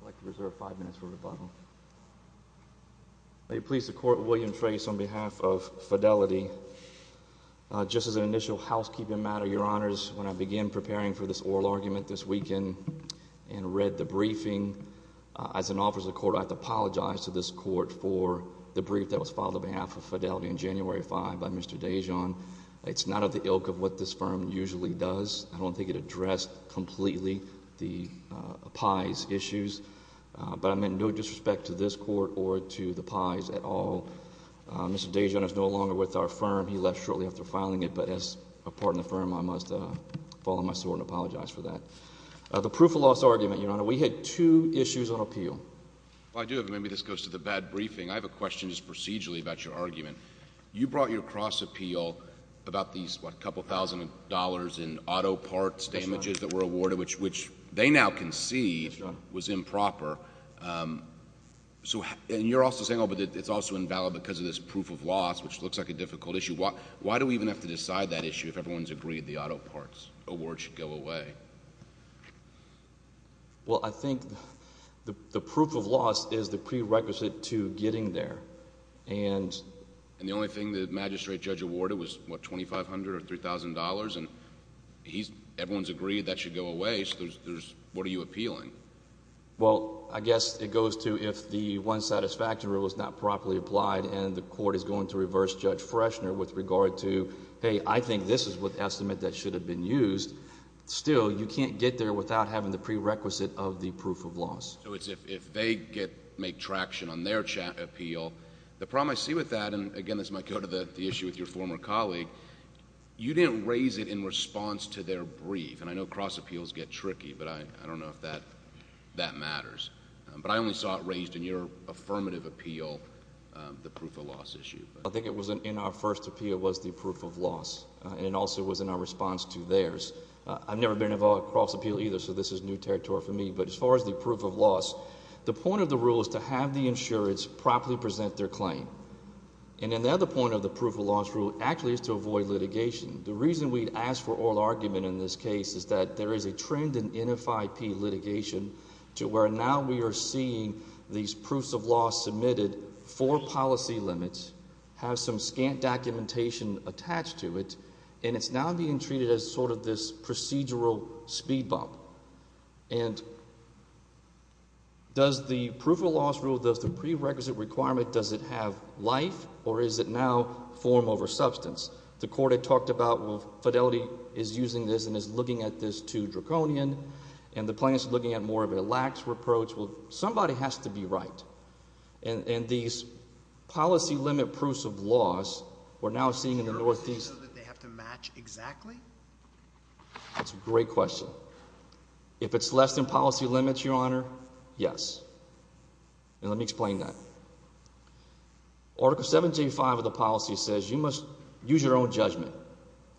I'd like to reserve five minutes for rebuttal. May it please the Court, William Trace on behalf of Fidlty. Just as an initial housekeeping matter, Your Honors, when I began preparing for this oral argument this weekend and read the briefing, as an officer of the Court, I have to apologize to this Court for the brief that was filed on behalf of Fidlty on January 5 by Mr. Dajon. It's not of the ilk of what this firm usually does. I don't think it addressed completely the Pye's issues. But I'm in no disrespect to this Court or to the Pye's at all. Mr. Dajon is no longer with our firm. He left shortly after filing it, but as a part of the firm, I must fall on my sword and apologize for that. The proof of loss argument, Your Honor, we had two issues on appeal. I do, but maybe this goes to the bad briefing. I have a question just procedurally about your argument. You brought your cross appeal about these, what, a couple thousand dollars in auto parts damages that were awarded, which they now concede was improper. And you're also saying, oh, but it's also invalid because of this proof of loss, which looks like a difficult issue. Why do we even have to decide that issue if everyone's agreed the auto parts award should go away? Well, I think the proof of loss is the prerequisite to getting there. And the only thing the magistrate judge awarded was, what, $2,500 or $3,000? And everyone's agreed that should go away, so what are you appealing? Well, I guess it goes to if the one satisfactory was not properly applied and the court is going to reverse Judge Freshner with regard to, hey, I think this is an estimate that should have been used. Still, you can't get there without having the prerequisite of the proof of loss. So it's if they make traction on their appeal. The problem I see with that, and again, this might go to the issue with your former colleague, you didn't raise it in response to their brief. And I know cross appeals get tricky, but I don't know if that matters. But I only saw it raised in your affirmative appeal, the proof of loss issue. I think it was in our first appeal was the proof of loss. And it also was in our response to theirs. I've never been involved in cross appeal either, so this is new territory for me. But as far as the proof of loss, the point of the rule is to have the insurance properly present their claim. And then the other point of the proof of loss rule actually is to avoid litigation. The reason we'd ask for oral argument in this case is that there is a trend in NFIP litigation to where now we are seeing these proofs of loss submitted for policy limits, have some scant documentation attached to it, and it's now being treated as sort of this procedural speed bump. And does the proof of loss rule, does the prerequisite requirement, does it have life, or is it now form over substance? The court had talked about, well, Fidelity is using this and is looking at this to Draconian, and the plaintiff's looking at more of a lax approach. Well, somebody has to be right. And these policy limit proofs of loss we're now seeing in the Northeast. So they have to match exactly? That's a great question. If it's less than policy limits, Your Honor, yes. And let me explain that. Article 7J5 of the policy says you must use your own judgment.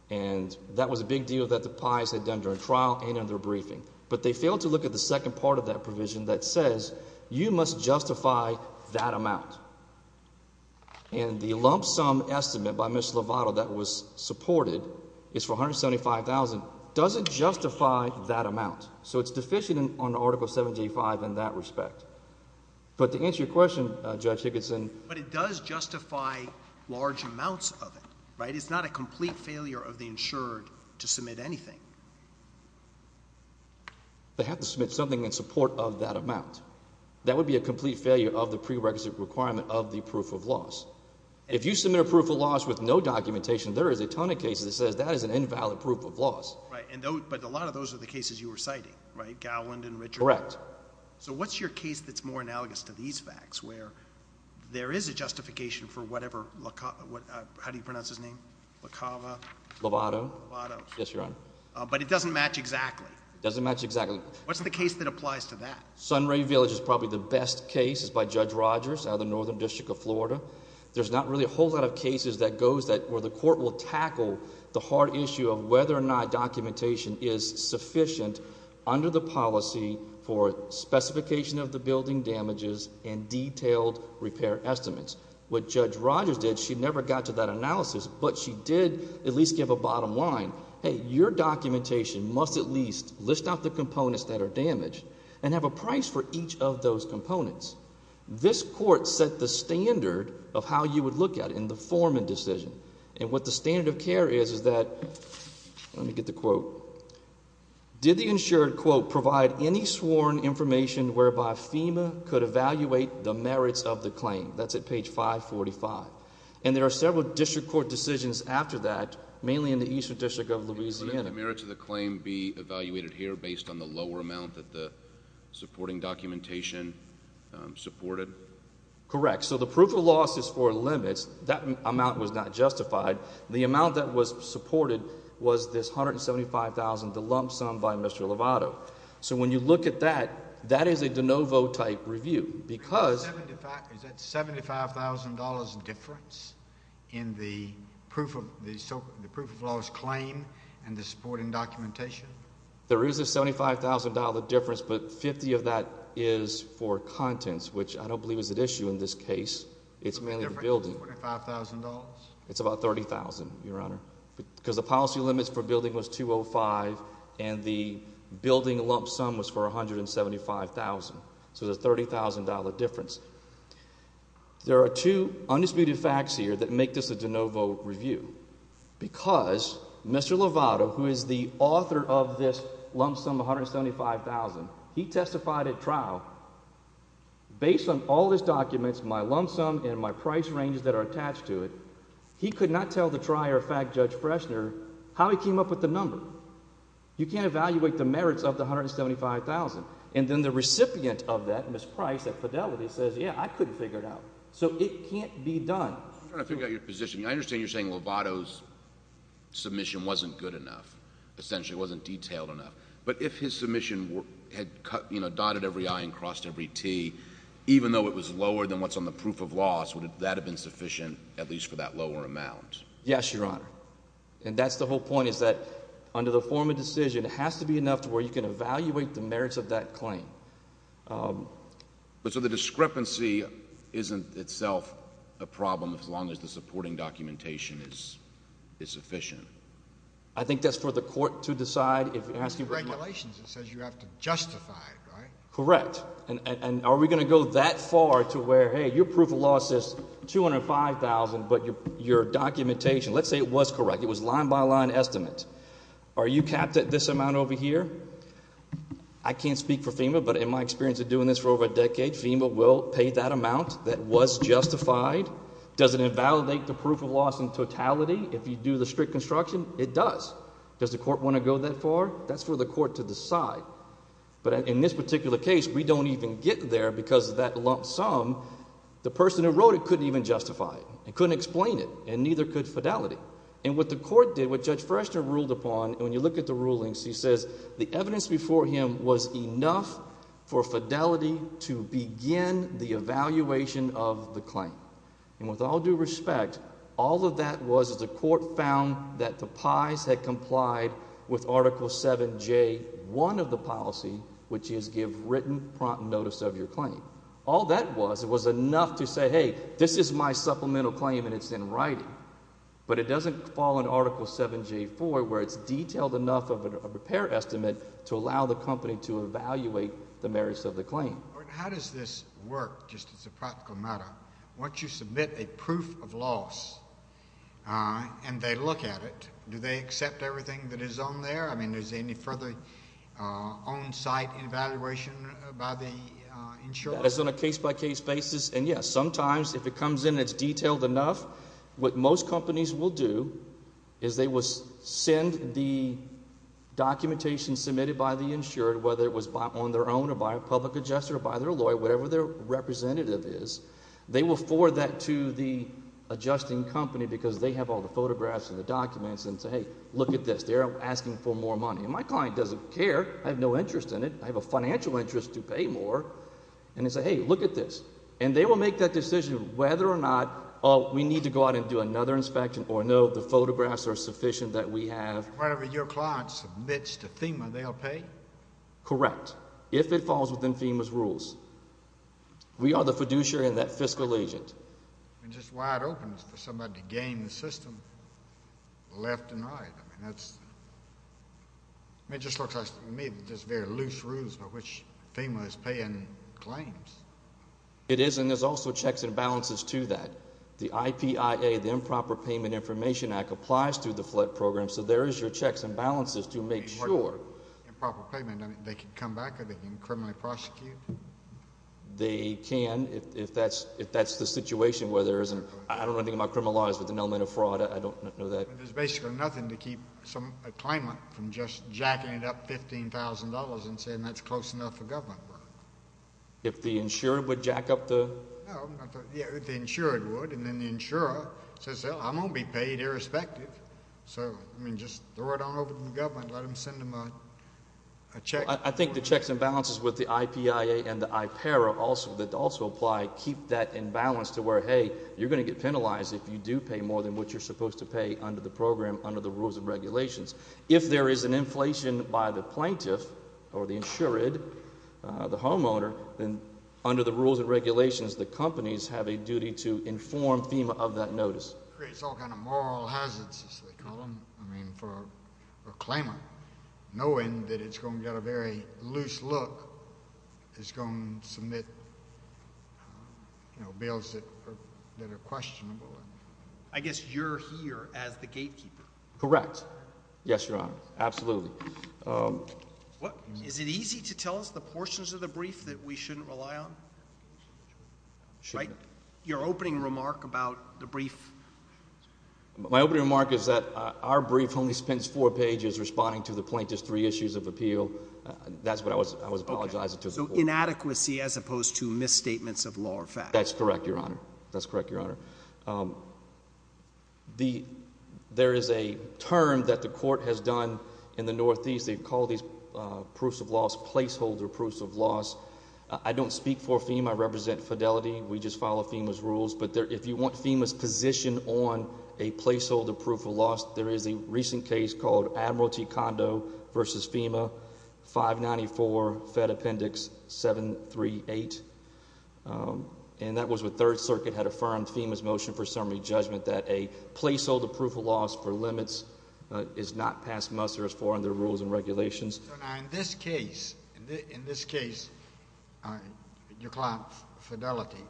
And that was a big deal that the Pies had done during trial and in their briefing. But they failed to look at the second part of that provision that says you must justify that amount. And the lump sum estimate by Ms. Lovato that was supported is for $175,000. Does it justify that amount? So it's deficient on Article 7J5 in that respect. But to answer your question, Judge Higginson. But it does justify large amounts of it, right? It's not a complete failure of the insured to submit anything. They have to submit something in support of that amount. That would be a complete failure of the prerequisite requirement of the proof of loss. If you submit a proof of loss with no documentation, there is a ton of cases that says that is an invalid proof of loss. But a lot of those are the cases you were citing, right? Gowland and Richards? Correct. So what's your case that's more analogous to these facts where there is a justification for whatever, how do you pronounce his name? Lovato? Lovato. Yes, Your Honor. But it doesn't match exactly. It doesn't match exactly. What's the case that applies to that? Sunray Village is probably the best case. It's by Judge Rogers out of the Northern District of Florida. There's not really a whole lot of cases that goes that where the court will tackle the hard issue of whether or not documentation is sufficient under the policy for specification of the building damages and detailed repair estimates. What Judge Rogers did, she never got to that analysis, but she did at least give a bottom line. Hey, your documentation must at least list out the components that are damaged and have a price for each of those components. This court set the standard of how you would look at it in the foreman decision. And what the standard of care is is that, let me get the quote, did the insured, quote, provide any sworn information whereby FEMA could evaluate the merits of the claim? That's at page 545. And there are several district court decisions after that, mainly in the Eastern District of Louisiana. Couldn't the merits of the claim be evaluated here based on the lower amount that the supporting documentation supported? Correct. So the proof of loss is for limits. That amount was not justified. The amount that was supported was this $175,000, the lump sum by Mr. Lovato. So when you look at that, that is a de novo type review because... Is that $75,000 difference in the proof of loss claim and the supporting documentation? There is a $75,000 difference, but 50 of that is for contents, which I don't believe is at issue in this case. It's mainly the building. $45,000? It's about $30,000, Your Honor, because the policy limits for building was $205,000, and the building lump sum was for $175,000. So there's a $30,000 difference. There are two undisputed facts here that make this a de novo review. Because Mr. Lovato, who is the author of this lump sum of $175,000, he testified at trial, based on all his documents, my lump sum and my price ranges that are attached to it, he could not tell the trier of fact, Judge Freshner, how he came up with the number. You can't evaluate the merits of the $175,000. And then the recipient of that, Ms. Price at Fidelity, says, yeah, I couldn't figure it out. So it can't be done. I'm trying to figure out your position. I understand you're saying Lovato's submission wasn't good enough, essentially wasn't detailed enough. But if his submission had, you know, dotted every I and crossed every T, even though it was lower than what's on the proof of loss, would that have been sufficient, at least for that lower amount? Yes, Your Honor. And that's the whole point, is that under the form of decision, it has to be enough to where you can evaluate the merits of that claim. So the discrepancy isn't itself a problem as long as the supporting documentation is sufficient? I think that's for the court to decide. It's the regulations. It says you have to justify it, right? Correct. And are we going to go that far to where, hey, your proof of loss is $205,000, but your documentation, let's say it was correct, it was line-by-line estimate. Are you capped at this amount over here? I can't speak for FEMA, but in my experience of doing this for over a decade, FEMA will pay that amount. That was justified. Does it invalidate the proof of loss in totality if you do the strict construction? It does. Does the court want to go that far? That's for the court to decide. But in this particular case, we don't even get there because of that lump sum. The person who wrote it couldn't even justify it and couldn't explain it, and neither could fidelity. And what the court did, what Judge Freshner ruled upon, when you look at the rulings, he says the evidence before him was enough for fidelity to begin the evaluation of the claim. And with all due respect, all of that was the court found that the pies had complied with Article 7J1 of the policy, which is give written prompt notice of your claim. All that was was enough to say, hey, this is my supplemental claim, and it's in writing. But it doesn't fall in Article 7J4 where it's detailed enough of a repair estimate to allow the company to evaluate the merits of the claim. How does this work, just as a practical matter? Once you submit a proof of loss and they look at it, do they accept everything that is on there? I mean is there any further on-site evaluation by the insurer? As on a case-by-case basis, and yes, sometimes if it comes in and it's detailed enough, what most companies will do is they will send the documentation submitted by the insured, whether it was on their own or by a public adjuster or by their lawyer, whatever their representative is. They will forward that to the adjusting company because they have all the photographs and the documents and say, hey, look at this. They're asking for more money. And my client doesn't care. I have no interest in it. I have a financial interest to pay more. And they say, hey, look at this. And they will make that decision whether or not we need to go out and do another inspection or no, the photographs are sufficient that we have. Whatever your client submits to FEMA, they'll pay? Correct, if it falls within FEMA's rules. We are the fiduciary and that fiscal agent. I mean, just wide open for somebody to game the system left and right. I mean, it just looks like to me just very loose rules by which FEMA is paying claims. It is, and there's also checks and balances to that. The IPIA, the Improper Payment Information Act, applies to the flood program, so there is your checks and balances to make sure. Improper payment, I mean, they can come back or they can criminally prosecute? They can if that's the situation where there isn't. I don't know anything about criminal laws, but the element of fraud, I don't know that. There's basically nothing to keep a claimant from just jacking it up $15,000 and saying that's close enough for government work. If the insurer would jack up the? Yeah, if the insurer would, and then the insurer says, well, I'm going to be paid irrespective. So, I mean, just throw it on over to the government, let them send them a check. I think the checks and balances with the IPIA and the IPERA also apply. Keep that in balance to where, hey, you're going to get penalized if you do pay more than what you're supposed to pay under the program, under the rules and regulations. If there is an inflation by the plaintiff or the insured, the homeowner, then under the rules and regulations, the companies have a duty to inform FEMA of that notice. It creates all kinds of moral hazards, as they call them. I mean, for a claimant, knowing that it's going to get a very loose look, it's going to submit bills that are questionable. I guess you're here as the gatekeeper. Correct. Yes, Your Honor, absolutely. Is it easy to tell us the portions of the brief that we shouldn't rely on? Shouldn't. Your opening remark about the brief. My opening remark is that our brief only spends four pages responding to the plaintiff's three issues of appeal. That's what I was apologizing to. So, inadequacy as opposed to misstatements of law or fact. That's correct, Your Honor. That's correct, Your Honor. There is a term that the court has done in the Northeast. They call these proofs of loss placeholder proofs of loss. I don't speak for FEMA. I represent Fidelity. We just follow FEMA's rules. But if you want FEMA's position on a placeholder proof of loss, there is a recent case called Admiralty Condo v. FEMA, 594 Fed Appendix 738. And that was when Third Circuit had affirmed FEMA's motion for summary judgment that a placeholder proof of loss for limits is not past muster as far as their rules and regulations. Now, in this case, your client, Fidelity,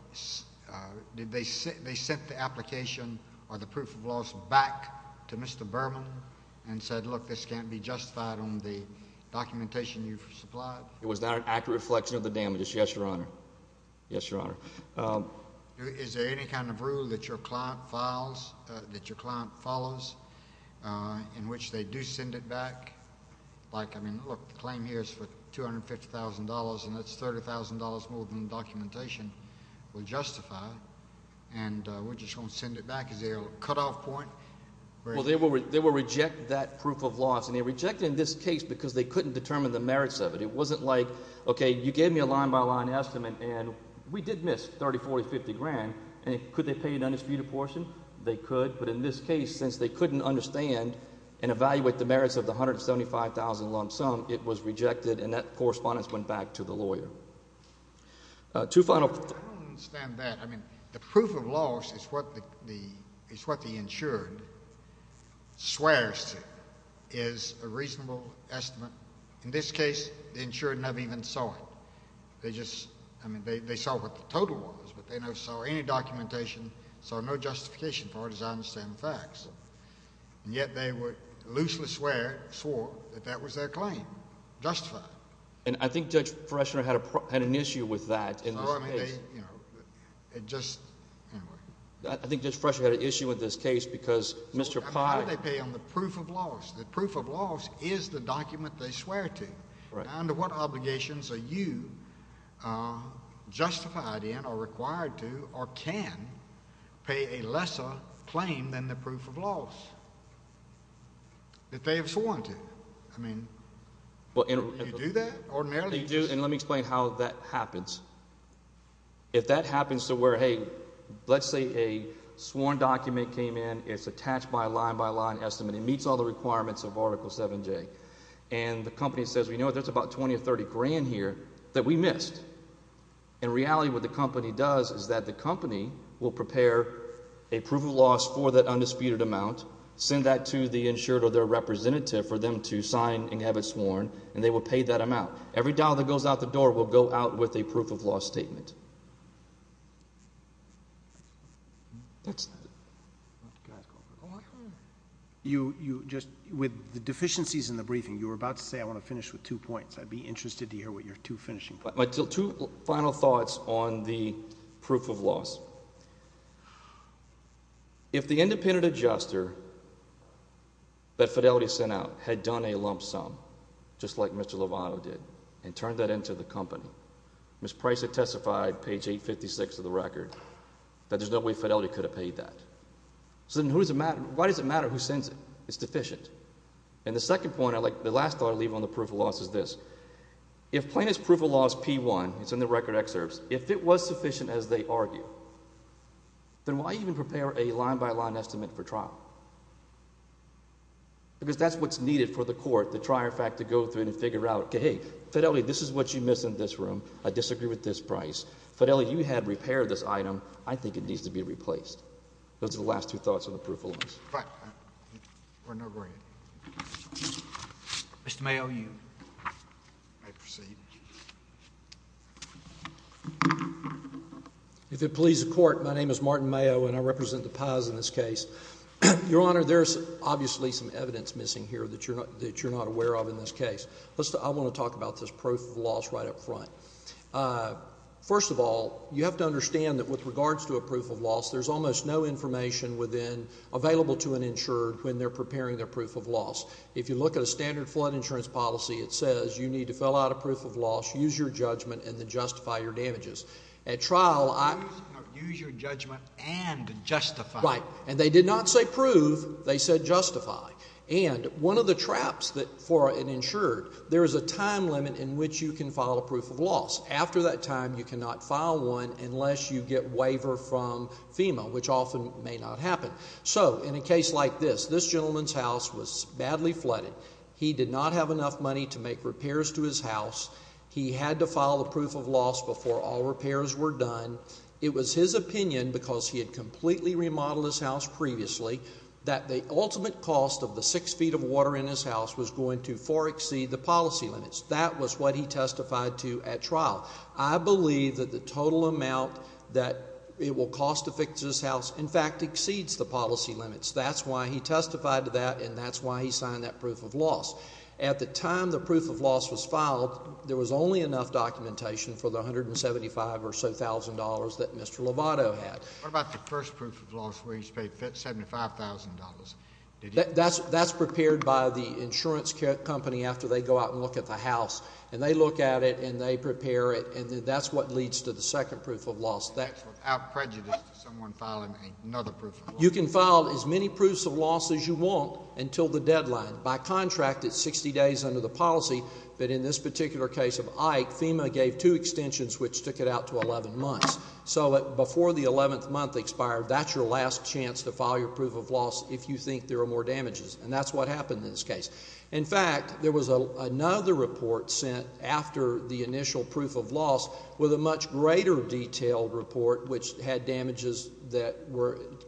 did they send the application or the proof of loss back to Mr. Berman and said, look, this can't be justified on the documentation you've supplied? It was not an accurate reflection of the damages, yes, Your Honor. Yes, Your Honor. Is there any kind of rule that your client files, that your client follows in which they do send it back? Like, I mean, look, the claim here is for $250,000, and that's $30,000 more than the documentation will justify. And we're just going to send it back? Is there a cutoff point? Well, they will reject that proof of loss, and they rejected it in this case because they couldn't determine the merits of it. It wasn't like, okay, you gave me a line-by-line estimate, and we did miss $30,000, $40,000, $50,000. And could they pay an undisputed portion? They could. But in this case, since they couldn't understand and evaluate the merits of the $175,000 loan sum, it was rejected, and that correspondence went back to the lawyer. Two final points. I don't understand that. I mean, the proof of loss is what the insured swears to is a reasonable estimate. In this case, the insured never even saw it. They just – I mean, they saw what the total was, but they never saw any documentation, saw no justification for it as I understand the facts. And yet they would loosely swear – swore that that was their claim justified. And I think Judge Fresher had an issue with that in this case. So, I mean, they – it just – anyway. I think Judge Fresher had an issue with this case because Mr. Pye – Now, under what obligations are you justified in or required to or can pay a lesser claim than the proof of loss if they have sworn to? I mean, do you do that ordinarily? You do, and let me explain how that happens. If that happens to where, hey, let's say a sworn document came in. It's attached by a line-by-line estimate. It meets all the requirements of Article 7J. And the company says, well, you know what? There's about $20,000 or $30,000 here that we missed. In reality, what the company does is that the company will prepare a proof of loss for that undisputed amount, send that to the insured or their representative for them to sign and have it sworn, and they will pay that amount. Every dollar that goes out the door will go out with a proof of loss statement. With the deficiencies in the briefing, you were about to say I want to finish with two points. I'd be interested to hear what your two finishing points are. My two final thoughts on the proof of loss. First of all, if the independent adjuster that Fidelity sent out had done a lump sum, just like Mr. Lovato did, and turned that into the company, Ms. Price had testified, page 856 of the record, that there's no way Fidelity could have paid that. So then why does it matter who sends it? It's deficient. And the second point, the last thought I'll leave on the proof of loss is this. If plaintiff's proof of loss P1, it's in the record excerpts, if it was sufficient as they argue, then why even prepare a line-by-line estimate for trial? Because that's what's needed for the court to try, in fact, to go through and figure out, hey, Fidelity, this is what you missed in this room. I disagree with this price. Fidelity, you had repaired this item. I think it needs to be replaced. Those are the last two thoughts on the proof of loss. All right. Your Honor, go ahead. Mr. Mayo, you may proceed. If it pleases the court, my name is Martin Mayo, and I represent the pies in this case. Your Honor, there's obviously some evidence missing here that you're not aware of in this case. I want to talk about this proof of loss right up front. First of all, you have to understand that with regards to a proof of loss, there's almost no information available to an insured when they're preparing their proof of loss. If you look at a standard flood insurance policy, it says you need to fill out a proof of loss, use your judgment, and then justify your damages. Use your judgment and justify. Right. And they did not say prove. They said justify. And one of the traps for an insured, there is a time limit in which you can file a proof of loss. After that time, you cannot file one unless you get waiver from FEMA, which often may not happen. So, in a case like this, this gentleman's house was badly flooded. He did not have enough money to make repairs to his house. He had to file a proof of loss before all repairs were done. It was his opinion, because he had completely remodeled his house previously, that the ultimate cost of the six feet of water in his house was going to far exceed the policy limits. That was what he testified to at trial. I believe that the total amount that it will cost to fix his house, in fact, exceeds the policy limits. That's why he testified to that, and that's why he signed that proof of loss. At the time the proof of loss was filed, there was only enough documentation for the $175,000 or so that Mr. Lovato had. What about the first proof of loss where he's paid $75,000? That's prepared by the insurance company after they go out and look at the house. And they look at it, and they prepare it, and that's what leads to the second proof of loss. And that's without prejudice to someone filing another proof of loss? You can file as many proofs of loss as you want until the deadline. By contract, it's 60 days under the policy, but in this particular case of Ike, FEMA gave two extensions, which took it out to 11 months. So before the 11th month expired, that's your last chance to file your proof of loss if you think there are more damages. And that's what happened in this case. In fact, there was another report sent after the initial proof of loss with a much greater detailed report, which had damages that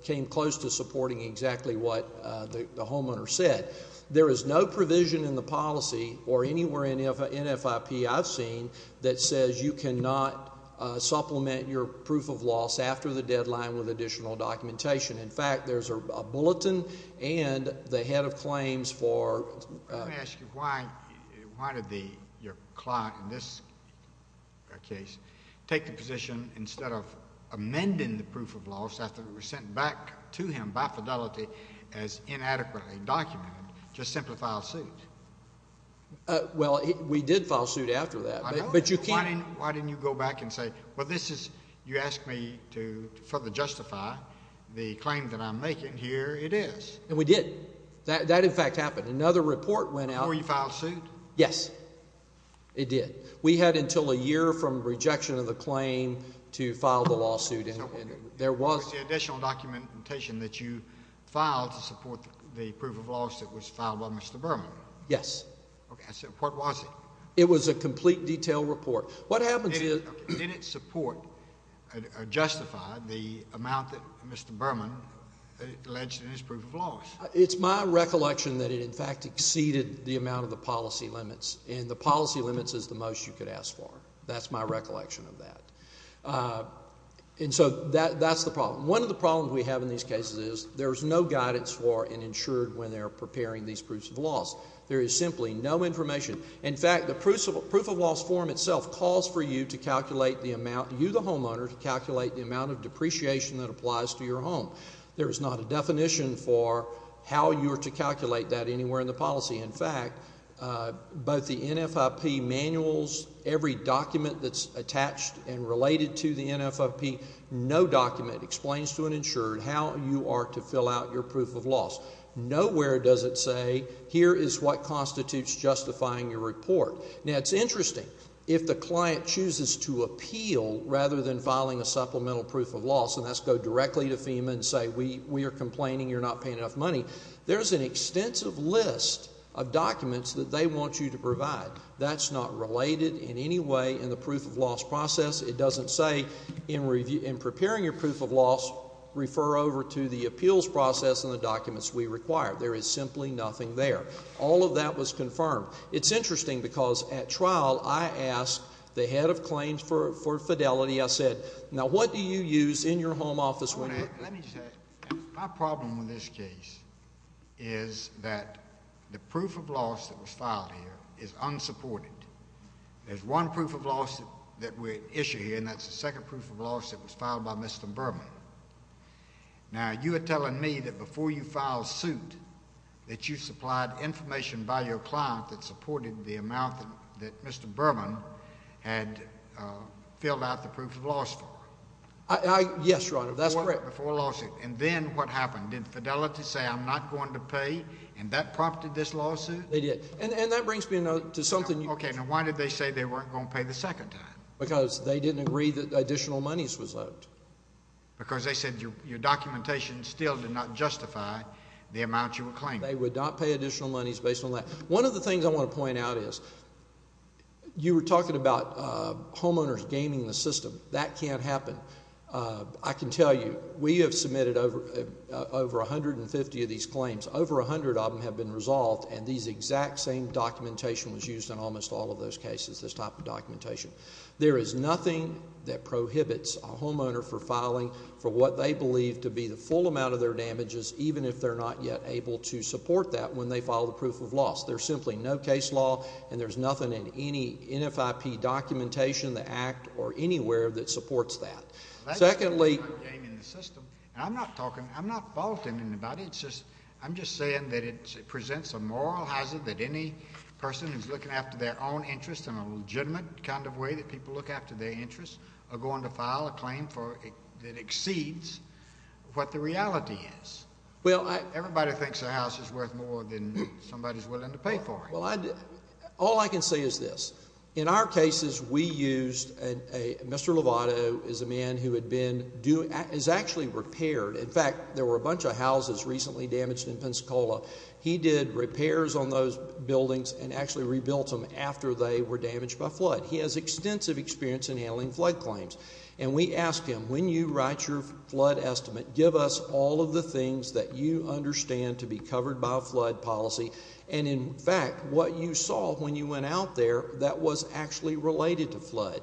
came close to supporting exactly what the homeowner said. There is no provision in the policy or anywhere in NFIP I've seen that says you cannot supplement your proof of loss after the deadline with additional documentation. In fact, there's a bulletin and the head of claims for ---- Let me ask you why did your client in this case take the position instead of amending the proof of loss after it was sent back to him by fidelity as inadequately documented, to simply file suit? Well, we did file suit after that, but you can't. Why didn't you go back and say, well, this is you asked me to further justify the claim that I'm making. Here it is. And we did. That, in fact, happened. Another report went out ---- Before you filed suit? Yes. It did. We had until a year from rejection of the claim to file the lawsuit, and there was ---- Was the additional documentation that you filed to support the proof of loss that was filed by Mr. Berman? Yes. Okay. What was it? It was a complete detailed report. What happens is ---- Did it support or justify the amount that Mr. Berman alleged in his proof of loss? It's my recollection that it, in fact, exceeded the amount of the policy limits, and the policy limits is the most you could ask for. That's my recollection of that. And so that's the problem. One of the problems we have in these cases is there is no guidance for and ensured when they're preparing these proofs of loss. There is simply no information. In fact, the proof of loss form itself calls for you to calculate the amount, you the homeowner, to calculate the amount of depreciation that applies to your home. There is not a definition for how you are to calculate that anywhere in the policy. In fact, both the NFIP manuals, every document that's attached and related to the NFIP, no document explains to an insurer how you are to fill out your proof of loss. Nowhere does it say here is what constitutes justifying your report. Now, it's interesting. If the client chooses to appeal rather than filing a supplemental proof of loss, and that's go directly to FEMA and say we are complaining you're not paying enough money, there's an extensive list of documents that they want you to provide. That's not related in any way in the proof of loss process. It doesn't say in preparing your proof of loss, refer over to the appeals process and the documents we require. There is simply nothing there. All of that was confirmed. It's interesting because at trial I asked the head of claims for fidelity. I said, now what do you use in your home office when you're— Let me say, my problem with this case is that the proof of loss that was filed here is unsupported. There's one proof of loss that we issue here, and that's the second proof of loss that was filed by Mr. Berman. Now, you are telling me that before you filed suit that you supplied information by your client that supported the amount that Mr. Berman had filled out the proof of loss for? Yes, Your Honor, that's correct. Before a lawsuit. And then what happened? Did fidelity say I'm not going to pay, and that prompted this lawsuit? They did. And that brings me to something you— Okay. Now, why did they say they weren't going to pay the second time? Because they didn't agree that additional monies was owed. Because they said your documentation still did not justify the amount you were claiming. They would not pay additional monies based on that. One of the things I want to point out is you were talking about homeowners gaming the system. That can't happen. I can tell you we have submitted over 150 of these claims. Over 100 of them have been resolved, and these exact same documentation was used in almost all of those cases, this type of documentation. There is nothing that prohibits a homeowner from filing for what they believe to be the full amount of their damages, even if they're not yet able to support that when they file the proof of loss. There's simply no case law, and there's nothing in any NFIP documentation, the Act, or anywhere that supports that. Secondly— That's not about gaming the system. I'm not talking—I'm not faulting anybody. I'm just saying that it presents a moral hazard that any person who's looking after their own interests in a legitimate kind of way that people look after their interests are going to file a claim that exceeds what the reality is. Everybody thinks a house is worth more than somebody's willing to pay for it. All I can say is this. In our cases, we used a—Mr. Lovato is a man who had been doing—is actually repaired. In fact, there were a bunch of houses recently damaged in Pensacola. He did repairs on those buildings and actually rebuilt them after they were damaged by flood. He has extensive experience in handling flood claims. And we asked him, when you write your flood estimate, give us all of the things that you understand to be covered by a flood policy. And in fact, what you saw when you went out there, that was actually related to flood.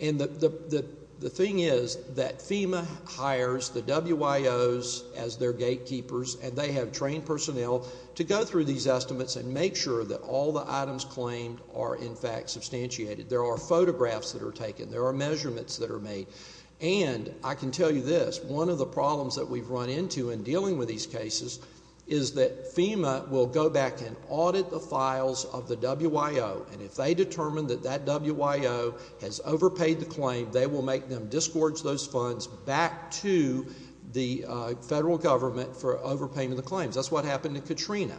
And the thing is that FEMA hires the WIOs as their gatekeepers, and they have trained personnel to go through these estimates and make sure that all the items claimed are in fact substantiated. There are photographs that are taken. There are measurements that are made. And I can tell you this. One of the problems that we've run into in dealing with these cases is that FEMA will go back and audit the files of the WIO. And if they determine that that WIO has overpaid the claim, they will make them disgorge those funds back to the federal government for overpaying the claims. That's what happened to Katrina.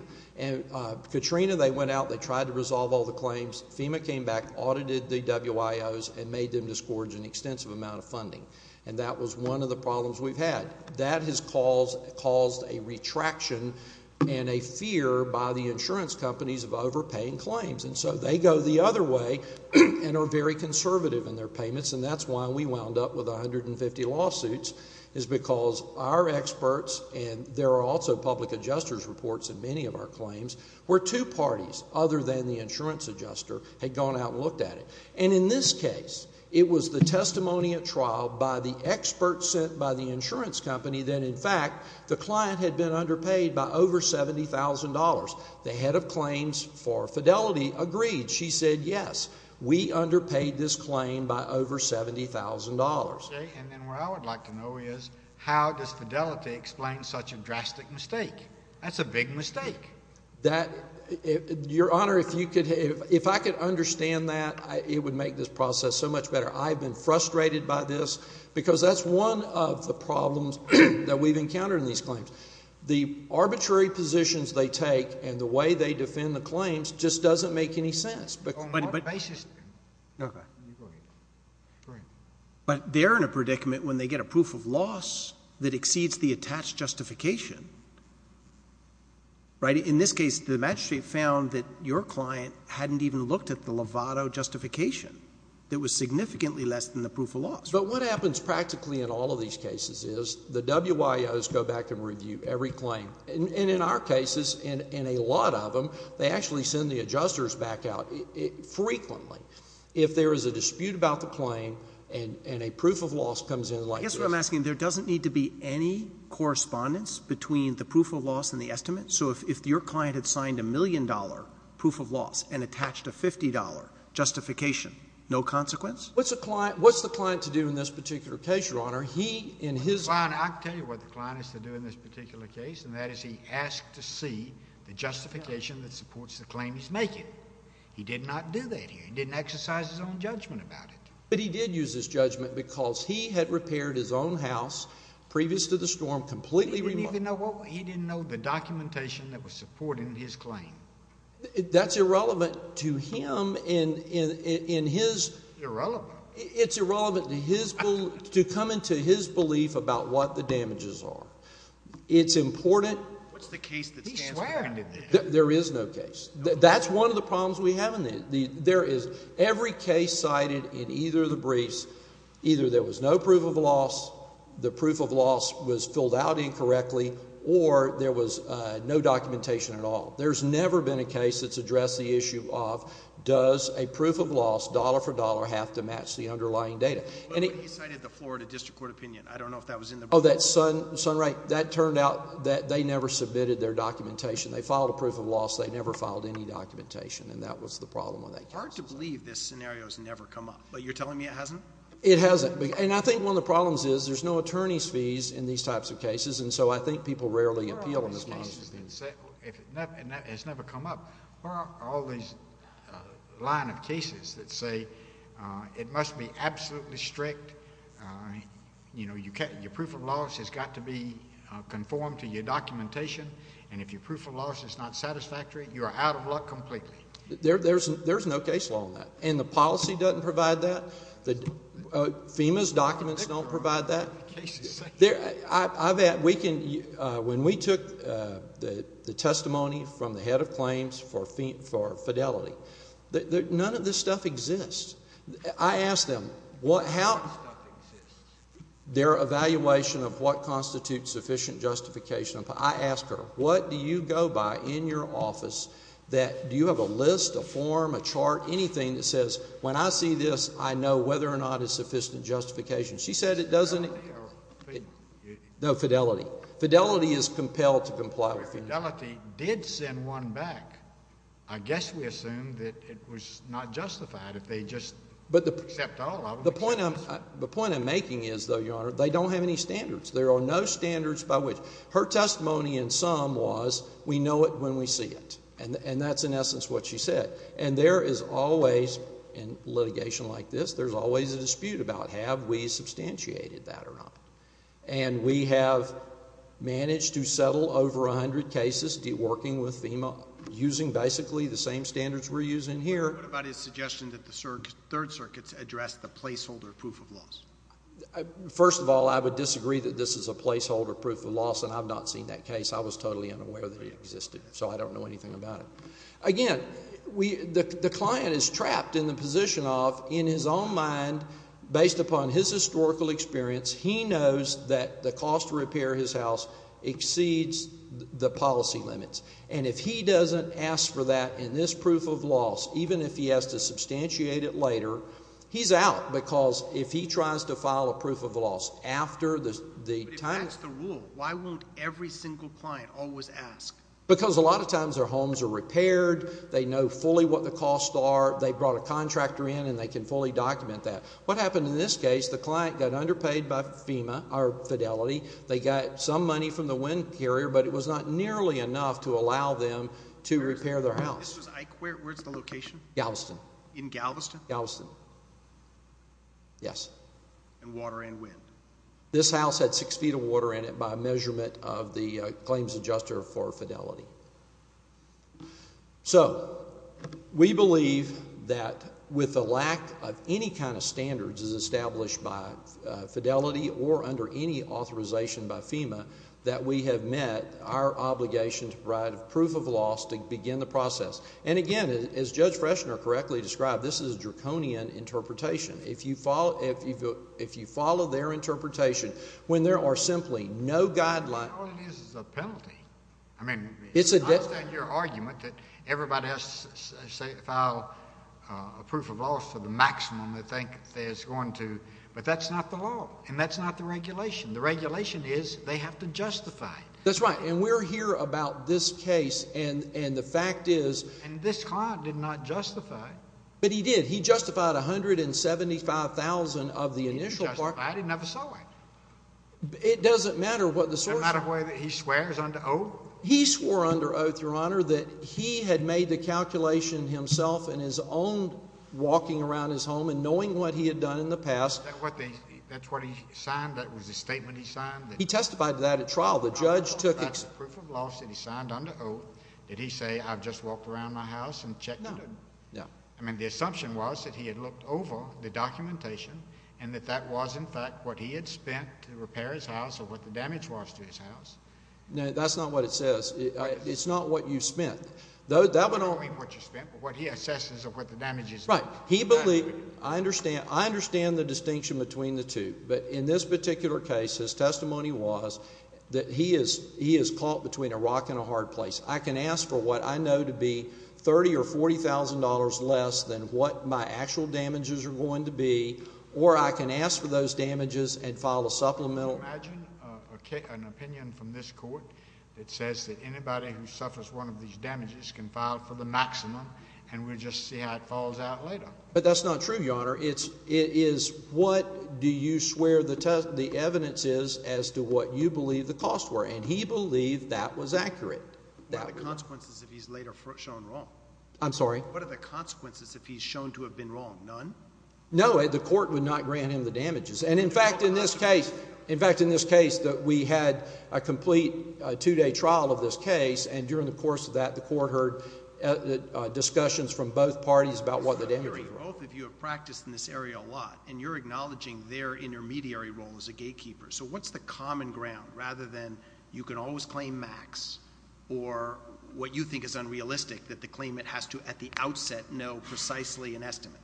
Katrina, they went out, they tried to resolve all the claims. FEMA came back, audited the WIOs, and made them disgorge an extensive amount of funding. And that was one of the problems we've had. That has caused a retraction and a fear by the insurance companies of overpaying claims. And so they go the other way and are very conservative in their payments, and that's why we wound up with 150 lawsuits is because our experts and there are also public adjuster's reports in many of our claims where two parties other than the insurance adjuster had gone out and looked at it. And in this case, it was the testimony at trial by the experts sent by the insurance company that in fact the client had been underpaid by over $70,000. The head of claims for Fidelity agreed. She said, yes, we underpaid this claim by over $70,000. Okay, and then what I would like to know is how does Fidelity explain such a drastic mistake? That's a big mistake. Your Honor, if I could understand that, it would make this process so much better. I've been frustrated by this because that's one of the problems that we've encountered in these claims. The arbitrary positions they take and the way they defend the claims just doesn't make any sense. But they're in a predicament when they get a proof of loss that exceeds the attached justification, right? In this case, the magistrate found that your client hadn't even looked at the Lovato justification that was significantly less than the proof of loss. But what happens practically in all of these cases is the WIOs go back and review every claim. And in our cases, in a lot of them, they actually send the adjusters back out frequently. If there is a dispute about the claim and a proof of loss comes in like this. I guess what I'm asking, there doesn't need to be any correspondence between the proof of loss and the estimate? So if your client had signed a million-dollar proof of loss and attached a $50 justification, no consequence? What's the client to do in this particular case, Your Honor? I can tell you what the client has to do in this particular case, and that is he asked to see the justification that supports the claim he's making. He did not do that here. He didn't exercise his own judgment about it. But he did use his judgment because he had repaired his own house previous to the storm completely removed. He didn't know the documentation that was supporting his claim. That's irrelevant to him in his… It's irrelevant. It's irrelevant to his belief, to come into his belief about what the damages are. It's important. What's the case that stands for that? There is no case. That's one of the problems we have in this. There is every case cited in either of the briefs. Either there was no proof of loss, the proof of loss was filled out incorrectly, or there was no documentation at all. There's never been a case that's addressed the issue of does a proof of loss, dollar for dollar, have to match the underlying data. But he cited the Florida District Court opinion. I don't know if that was in the brief. Oh, that's right. That turned out that they never submitted their documentation. They filed a proof of loss. They never filed any documentation, and that was the problem with that case. It's hard to believe this scenario has never come up, but you're telling me it hasn't? It hasn't. And I think one of the problems is there's no attorney's fees in these types of cases, and so I think people rarely appeal in these kinds of cases. And that has never come up. Where are all these line of cases that say it must be absolutely strict, you know, your proof of loss has got to be conformed to your documentation, and if your proof of loss is not satisfactory, you are out of luck completely? There's no case law on that, and the policy doesn't provide that. FEMA's documents don't provide that. When we took the testimony from the head of claims for fidelity, none of this stuff exists. I asked them, their evaluation of what constitutes sufficient justification. I asked her, what do you go by in your office that you have a list, a form, a chart, anything that says, when I see this, I know whether or not it's sufficient justification. Is it fidelity or FEMA? No, fidelity. Fidelity is compelled to comply with FEMA. If fidelity did send one back, I guess we assume that it was not justified if they just accept all of them. The point I'm making is, though, Your Honor, they don't have any standards. There are no standards by which. Her testimony in sum was, we know it when we see it, and that's in essence what she said. And there is always, in litigation like this, there's always a dispute about have we substantiated that or not. And we have managed to settle over 100 cases, working with FEMA, using basically the same standards we're using here. What about his suggestion that the Third Circuit's address the placeholder proof of loss? First of all, I would disagree that this is a placeholder proof of loss, and I've not seen that case. I was totally unaware that it existed, so I don't know anything about it. Again, the client is trapped in the position of, in his own mind, based upon his historical experience, he knows that the cost to repair his house exceeds the policy limits. And if he doesn't ask for that in this proof of loss, even if he has to substantiate it later, he's out. Because if he tries to file a proof of loss after the time. But if that's the rule, why won't every single client always ask? Because a lot of times their homes are repaired, they know fully what the costs are, they brought a contractor in and they can fully document that. What happened in this case, the client got underpaid by FEMA, or Fidelity. They got some money from the wind carrier, but it was not nearly enough to allow them to repair their house. Where's the location? Galveston. In Galveston? Galveston. Yes. And water and wind? This house had six feet of water in it by measurement of the claims adjuster for Fidelity. So, we believe that with the lack of any kind of standards as established by Fidelity or under any authorization by FEMA, that we have met our obligation to provide proof of loss to begin the process. And again, as Judge Frechner correctly described, this is a draconian interpretation. If you follow their interpretation, when there are simply no guidelines. All it is is a penalty. I mean, it's a debt. I understand your argument that everybody has to file a proof of loss for the maximum they think they're going to. But that's not the law, and that's not the regulation. The regulation is they have to justify it. That's right. And we're here about this case, and the fact is... And this client did not justify it. But he did. He justified $175,000 of the initial part. He justified it? He never saw it. It doesn't matter what the source... It doesn't matter whether he swears under oath? He swore under oath, Your Honor, that he had made the calculation himself in his own walking around his home and knowing what he had done in the past. That's what he signed? That was the statement he signed? He testified to that at trial. The judge took... Proof of loss that he signed under oath. Did he say, I've just walked around my house and checked it? No. I mean, the assumption was that he had looked over the documentation and that that was, in fact, what he had spent to repair his house or what the damage was to his house. No, that's not what it says. It's not what you spent. I don't mean what you spent, but what he assesses of what the damage is. Right. He believed... I understand the distinction between the two. But in this particular case, his testimony was that he is caught between a rock and a hard place. I can ask for what I know to be $30,000 or $40,000 less than what my actual damages are going to be, or I can ask for those damages and file a supplemental... Can you imagine an opinion from this court that says that anybody who suffers one of these damages can file for the maximum and we'll just see how it falls out later? But that's not true, Your Honor. It is what do you swear the evidence is as to what you believe the costs were, and he believed that was accurate. What are the consequences if he's later shown wrong? I'm sorry? What are the consequences if he's shown to have been wrong? None? No, the court would not grant him the damages. In fact, in this case, we had a complete two-day trial of this case, and during the course of that, the court heard discussions from both parties about what the damages were. Both of you have practiced in this area a lot, and you're acknowledging their intermediary role as a gatekeeper. So what's the common ground rather than you can always claim max or what you think is unrealistic that the claimant has to at the outset know precisely an estimate?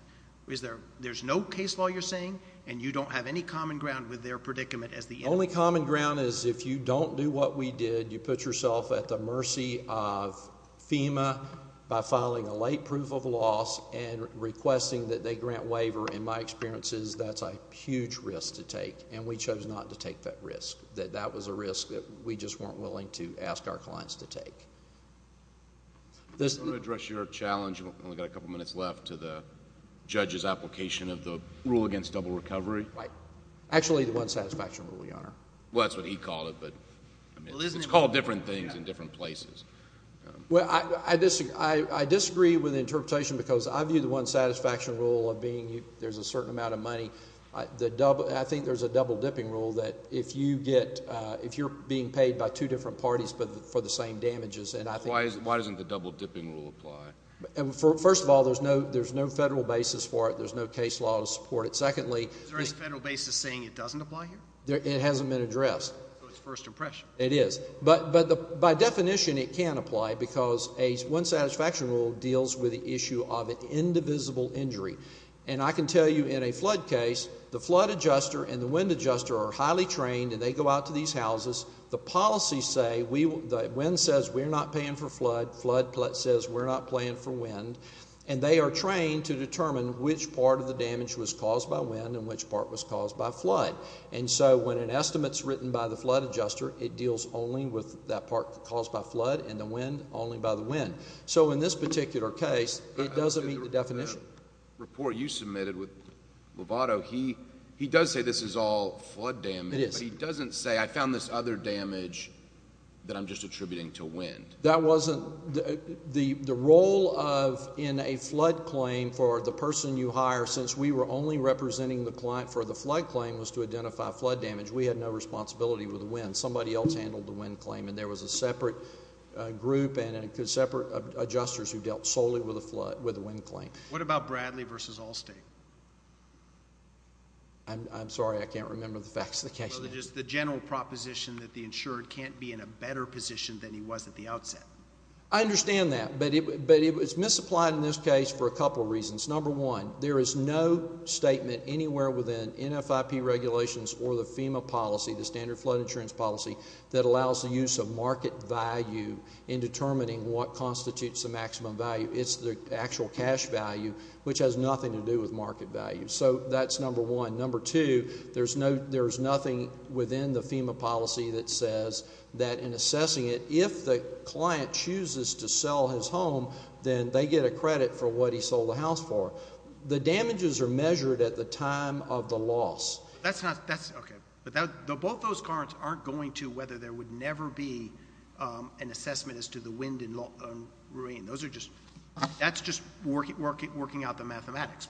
There's no case law you're saying, and you don't have any common ground with their predicament as the intermediary? The only common ground is if you don't do what we did, you put yourself at the mercy of FEMA by filing a late proof of loss and requesting that they grant waiver. In my experiences, that's a huge risk to take, and we chose not to take that risk. That was a risk that we just weren't willing to ask our clients to take. I want to address your challenge. We've only got a couple minutes left to the judge's application of the rule against double recovery. Actually, the one satisfaction rule, Your Honor. Well, that's what he called it, but it's called different things in different places. Well, I disagree with the interpretation because I view the one satisfaction rule of being there's a certain amount of money. I think there's a double dipping rule that if you're being paid by two different parties but for the same damages. Why doesn't the double dipping rule apply? First of all, there's no federal basis for it. There's no case law to support it. Secondly, Is there any federal basis saying it doesn't apply here? It hasn't been addressed. So it's first impression. It is. But by definition, it can apply because one satisfaction rule deals with the issue of an indivisible injury. And I can tell you in a flood case, the flood adjuster and the wind adjuster are highly trained, and they go out to these houses. The policies say the wind says we're not paying for flood. Flood says we're not paying for wind. And they are trained to determine which part of the damage was caused by wind and which part was caused by flood. And so when an estimate is written by the flood adjuster, it deals only with that part caused by flood and the wind only by the wind. So in this particular case, it doesn't meet the definition. The report you submitted with Lovato, he does say this is all flood damage. It is. But he doesn't say I found this other damage that I'm just attributing to wind. The role in a flood claim for the person you hire, since we were only representing the client for the flood claim, was to identify flood damage. We had no responsibility with the wind. Somebody else handled the wind claim, and there was a separate group and separate adjusters who dealt solely with the wind claim. What about Bradley v. Allstate? I'm sorry. I can't remember the facts of the case. So just the general proposition that the insured can't be in a better position than he was at the outset. I understand that, but it was misapplied in this case for a couple reasons. Number one, there is no statement anywhere within NFIP regulations or the FEMA policy, the standard flood insurance policy, that allows the use of market value in determining what constitutes the maximum value. It's the actual cash value, which has nothing to do with market value. So that's number one. Number two, there's nothing within the FEMA policy that says that in assessing it, if the client chooses to sell his home, then they get a credit for what he sold the house for. The damages are measured at the time of the loss. Both those cards aren't going to whether there would never be an assessment as to the wind and rain. That's just working out the mathematics.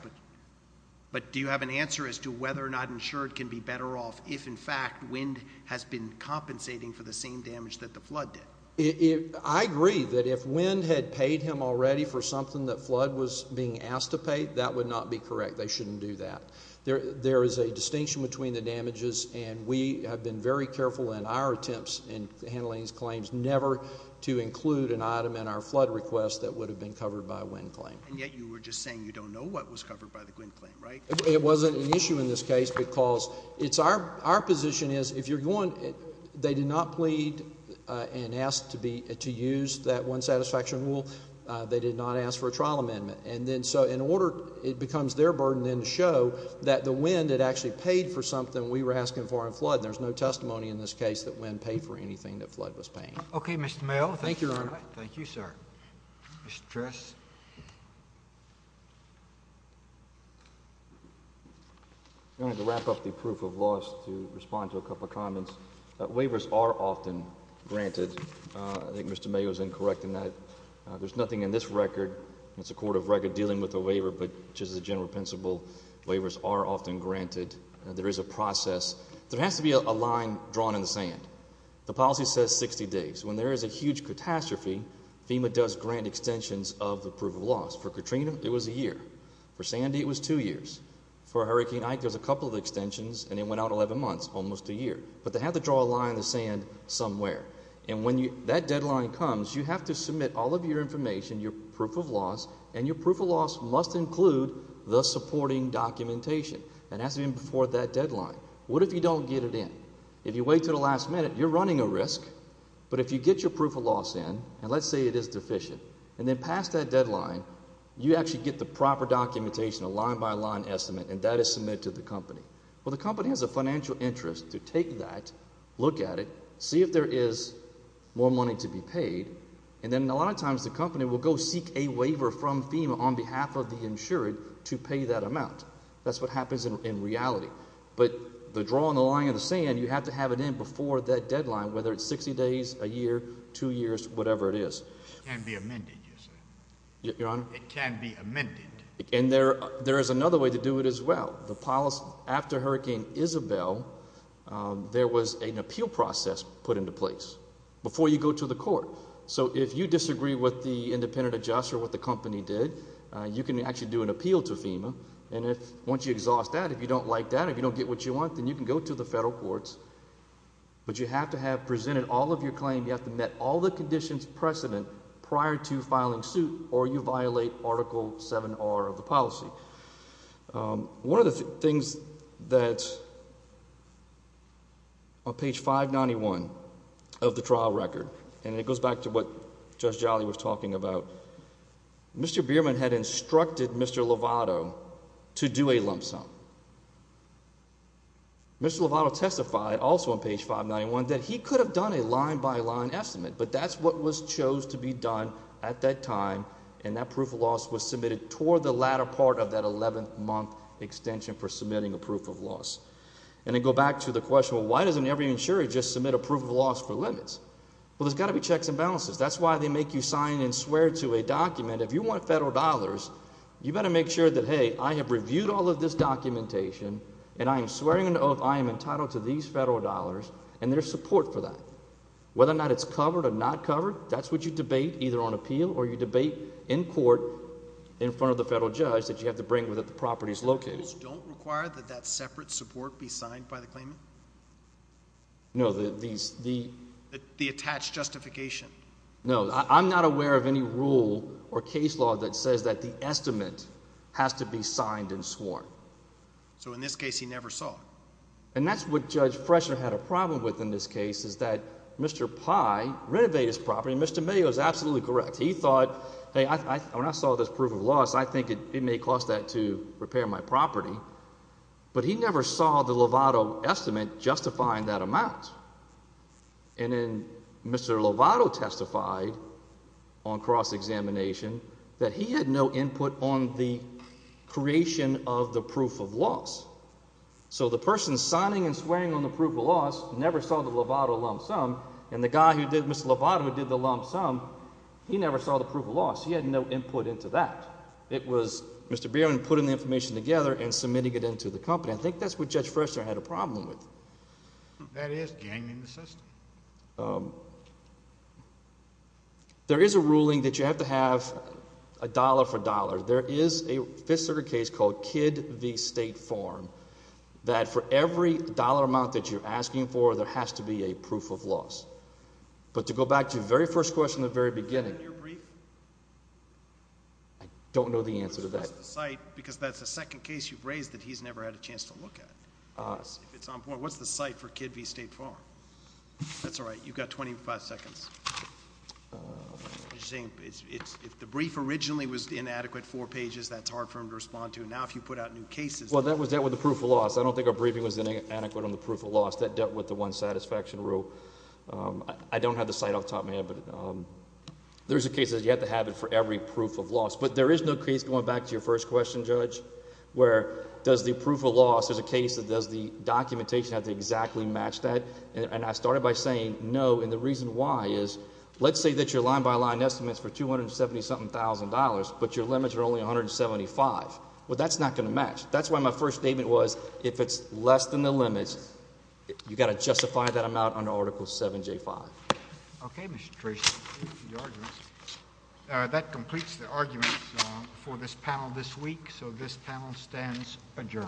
But do you have an answer as to whether or not insured can be better off if, in fact, wind has been compensating for the same damage that the flood did? I agree that if wind had paid him already for something that flood was being asked to pay, that would not be correct. They shouldn't do that. There is a distinction between the damages, and we have been very careful in our attempts in handling these claims never to include an item in our flood request that would have been covered by a wind claim. And yet you were just saying you don't know what was covered by the wind claim, right? It wasn't an issue in this case because it's our position is if you're going, they did not plead and ask to use that one satisfaction rule. They did not ask for a trial amendment. And then so in order, it becomes their burden then to show that the wind had actually paid for something we were asking for in flood. There's no testimony in this case that wind paid for anything that flood was paying. Okay, Mr. Mayo. Thank you, Your Honor. Thank you, sir. Mr. Tress. I'm going to wrap up the proof of loss to respond to a couple of comments. Waivers are often granted. I think Mr. Mayo is incorrect in that. There's nothing in this record, and it's a court of record dealing with a waiver, but just as a general principle, waivers are often granted. There is a process. There has to be a line drawn in the sand. The policy says 60 days. When there is a huge catastrophe, FEMA does grant extensions of the proof of loss. For Katrina, it was a year. For Sandy, it was two years. For Hurricane Ike, there's a couple of extensions, and it went out 11 months, almost a year. But they have to draw a line in the sand somewhere. And when that deadline comes, you have to submit all of your information, your proof of loss, and your proof of loss must include the supporting documentation. It has to be before that deadline. What if you don't get it in? If you wait to the last minute, you're running a risk. But if you get your proof of loss in, and let's say it is deficient, and then pass that deadline, you actually get the proper documentation, a line-by-line estimate, and that is submitted to the company. Well, the company has a financial interest to take that, look at it, see if there is more money to be paid, and then a lot of times the company will go seek a waiver from FEMA on behalf of the insured to pay that amount. That's what happens in reality. But the draw on the line in the sand, you have to have it in before that deadline, whether it's 60 days, a year, two years, whatever it is. It can be amended, you said. Your Honor? It can be amended. And there is another way to do it as well. After Hurricane Isabel, there was an appeal process put into place before you go to the court. So if you disagree with the independent adjuster, what the company did, you can actually do an appeal to FEMA. And once you exhaust that, if you don't like that, if you don't get what you want, then you can go to the federal courts. But you have to have presented all of your claim, you have to have met all the conditions precedent prior to filing suit, or you violate Article 7R of the policy. One of the things that's on page 591 of the trial record, and it goes back to what Judge Jolly was talking about, Mr. Bierman had instructed Mr. Lovato to do a lump sum. Mr. Lovato testified also on page 591 that he could have done a line-by-line estimate, but that's what was chose to be done at that time, and that proof of loss was submitted toward the latter part of that 11-month extension for submitting a proof of loss. And to go back to the question, well, why doesn't every insurer just submit a proof of loss for limits? Well, there's got to be checks and balances. That's why they make you sign and swear to a document. If you want federal dollars, you've got to make sure that, hey, I have reviewed all of this documentation, and I am swearing an oath I am entitled to these federal dollars and their support for that. Whether or not it's covered or not covered, that's what you debate either on appeal or you debate in court in front of the federal judge that you have to bring with it the properties located. Rules don't require that that separate support be signed by the claimant? No. The attached justification? No. I'm not aware of any rule or case law that says that the estimate has to be signed and sworn. So in this case, he never saw it? And that's what Judge Fresher had a problem with in this case is that Mr. Pye renovated his property, and Mr. Mayo is absolutely correct. He thought, hey, when I saw this proof of loss, I think it may cost that to repair my property. But he never saw the Lovato estimate justifying that amount. And then Mr. Lovato testified on cross-examination that he had no input on the creation of the proof of loss. So the person signing and swearing on the proof of loss never saw the Lovato lump sum, and the guy who did, Mr. Lovato, who did the lump sum, he never saw the proof of loss. He had no input into that. It was Mr. Bierman putting the information together and submitting it into the company. I think that's what Judge Fresher had a problem with. That is ganging the system. There is a ruling that you have to have a dollar for dollars. There is a fifth circuit case called Kidd v. State Farm that for every dollar amount that you're asking for, there has to be a proof of loss. But to go back to the very first question at the very beginning. I don't know the answer to that. Because that's the second case you've raised that he's never had a chance to look at. If it's on point. What's the site for Kidd v. State Farm? That's all right. You've got 25 seconds. If the brief originally was inadequate four pages, that's hard for him to respond to. Now if you put out new cases. Well, that was dealt with the proof of loss. I don't think our briefing was inadequate on the proof of loss. That dealt with the one satisfaction rule. I don't have the site off the top of my head. But there's a case that you have to have it for every proof of loss. But there is no case, going back to your first question, Judge, where does the proof of loss, there's a case that does the documentation have to exactly match that? And I started by saying no. And the reason why is let's say that your line-by-line estimate is for $270,000, but your limits are only $175,000. Well, that's not going to match. That's why my first statement was if it's less than the limits, you've got to justify that amount under Article 7J5. Okay, Mr. Tracy. Thank you for your arguments. That completes the arguments for this panel this week. So this panel stands adjourned.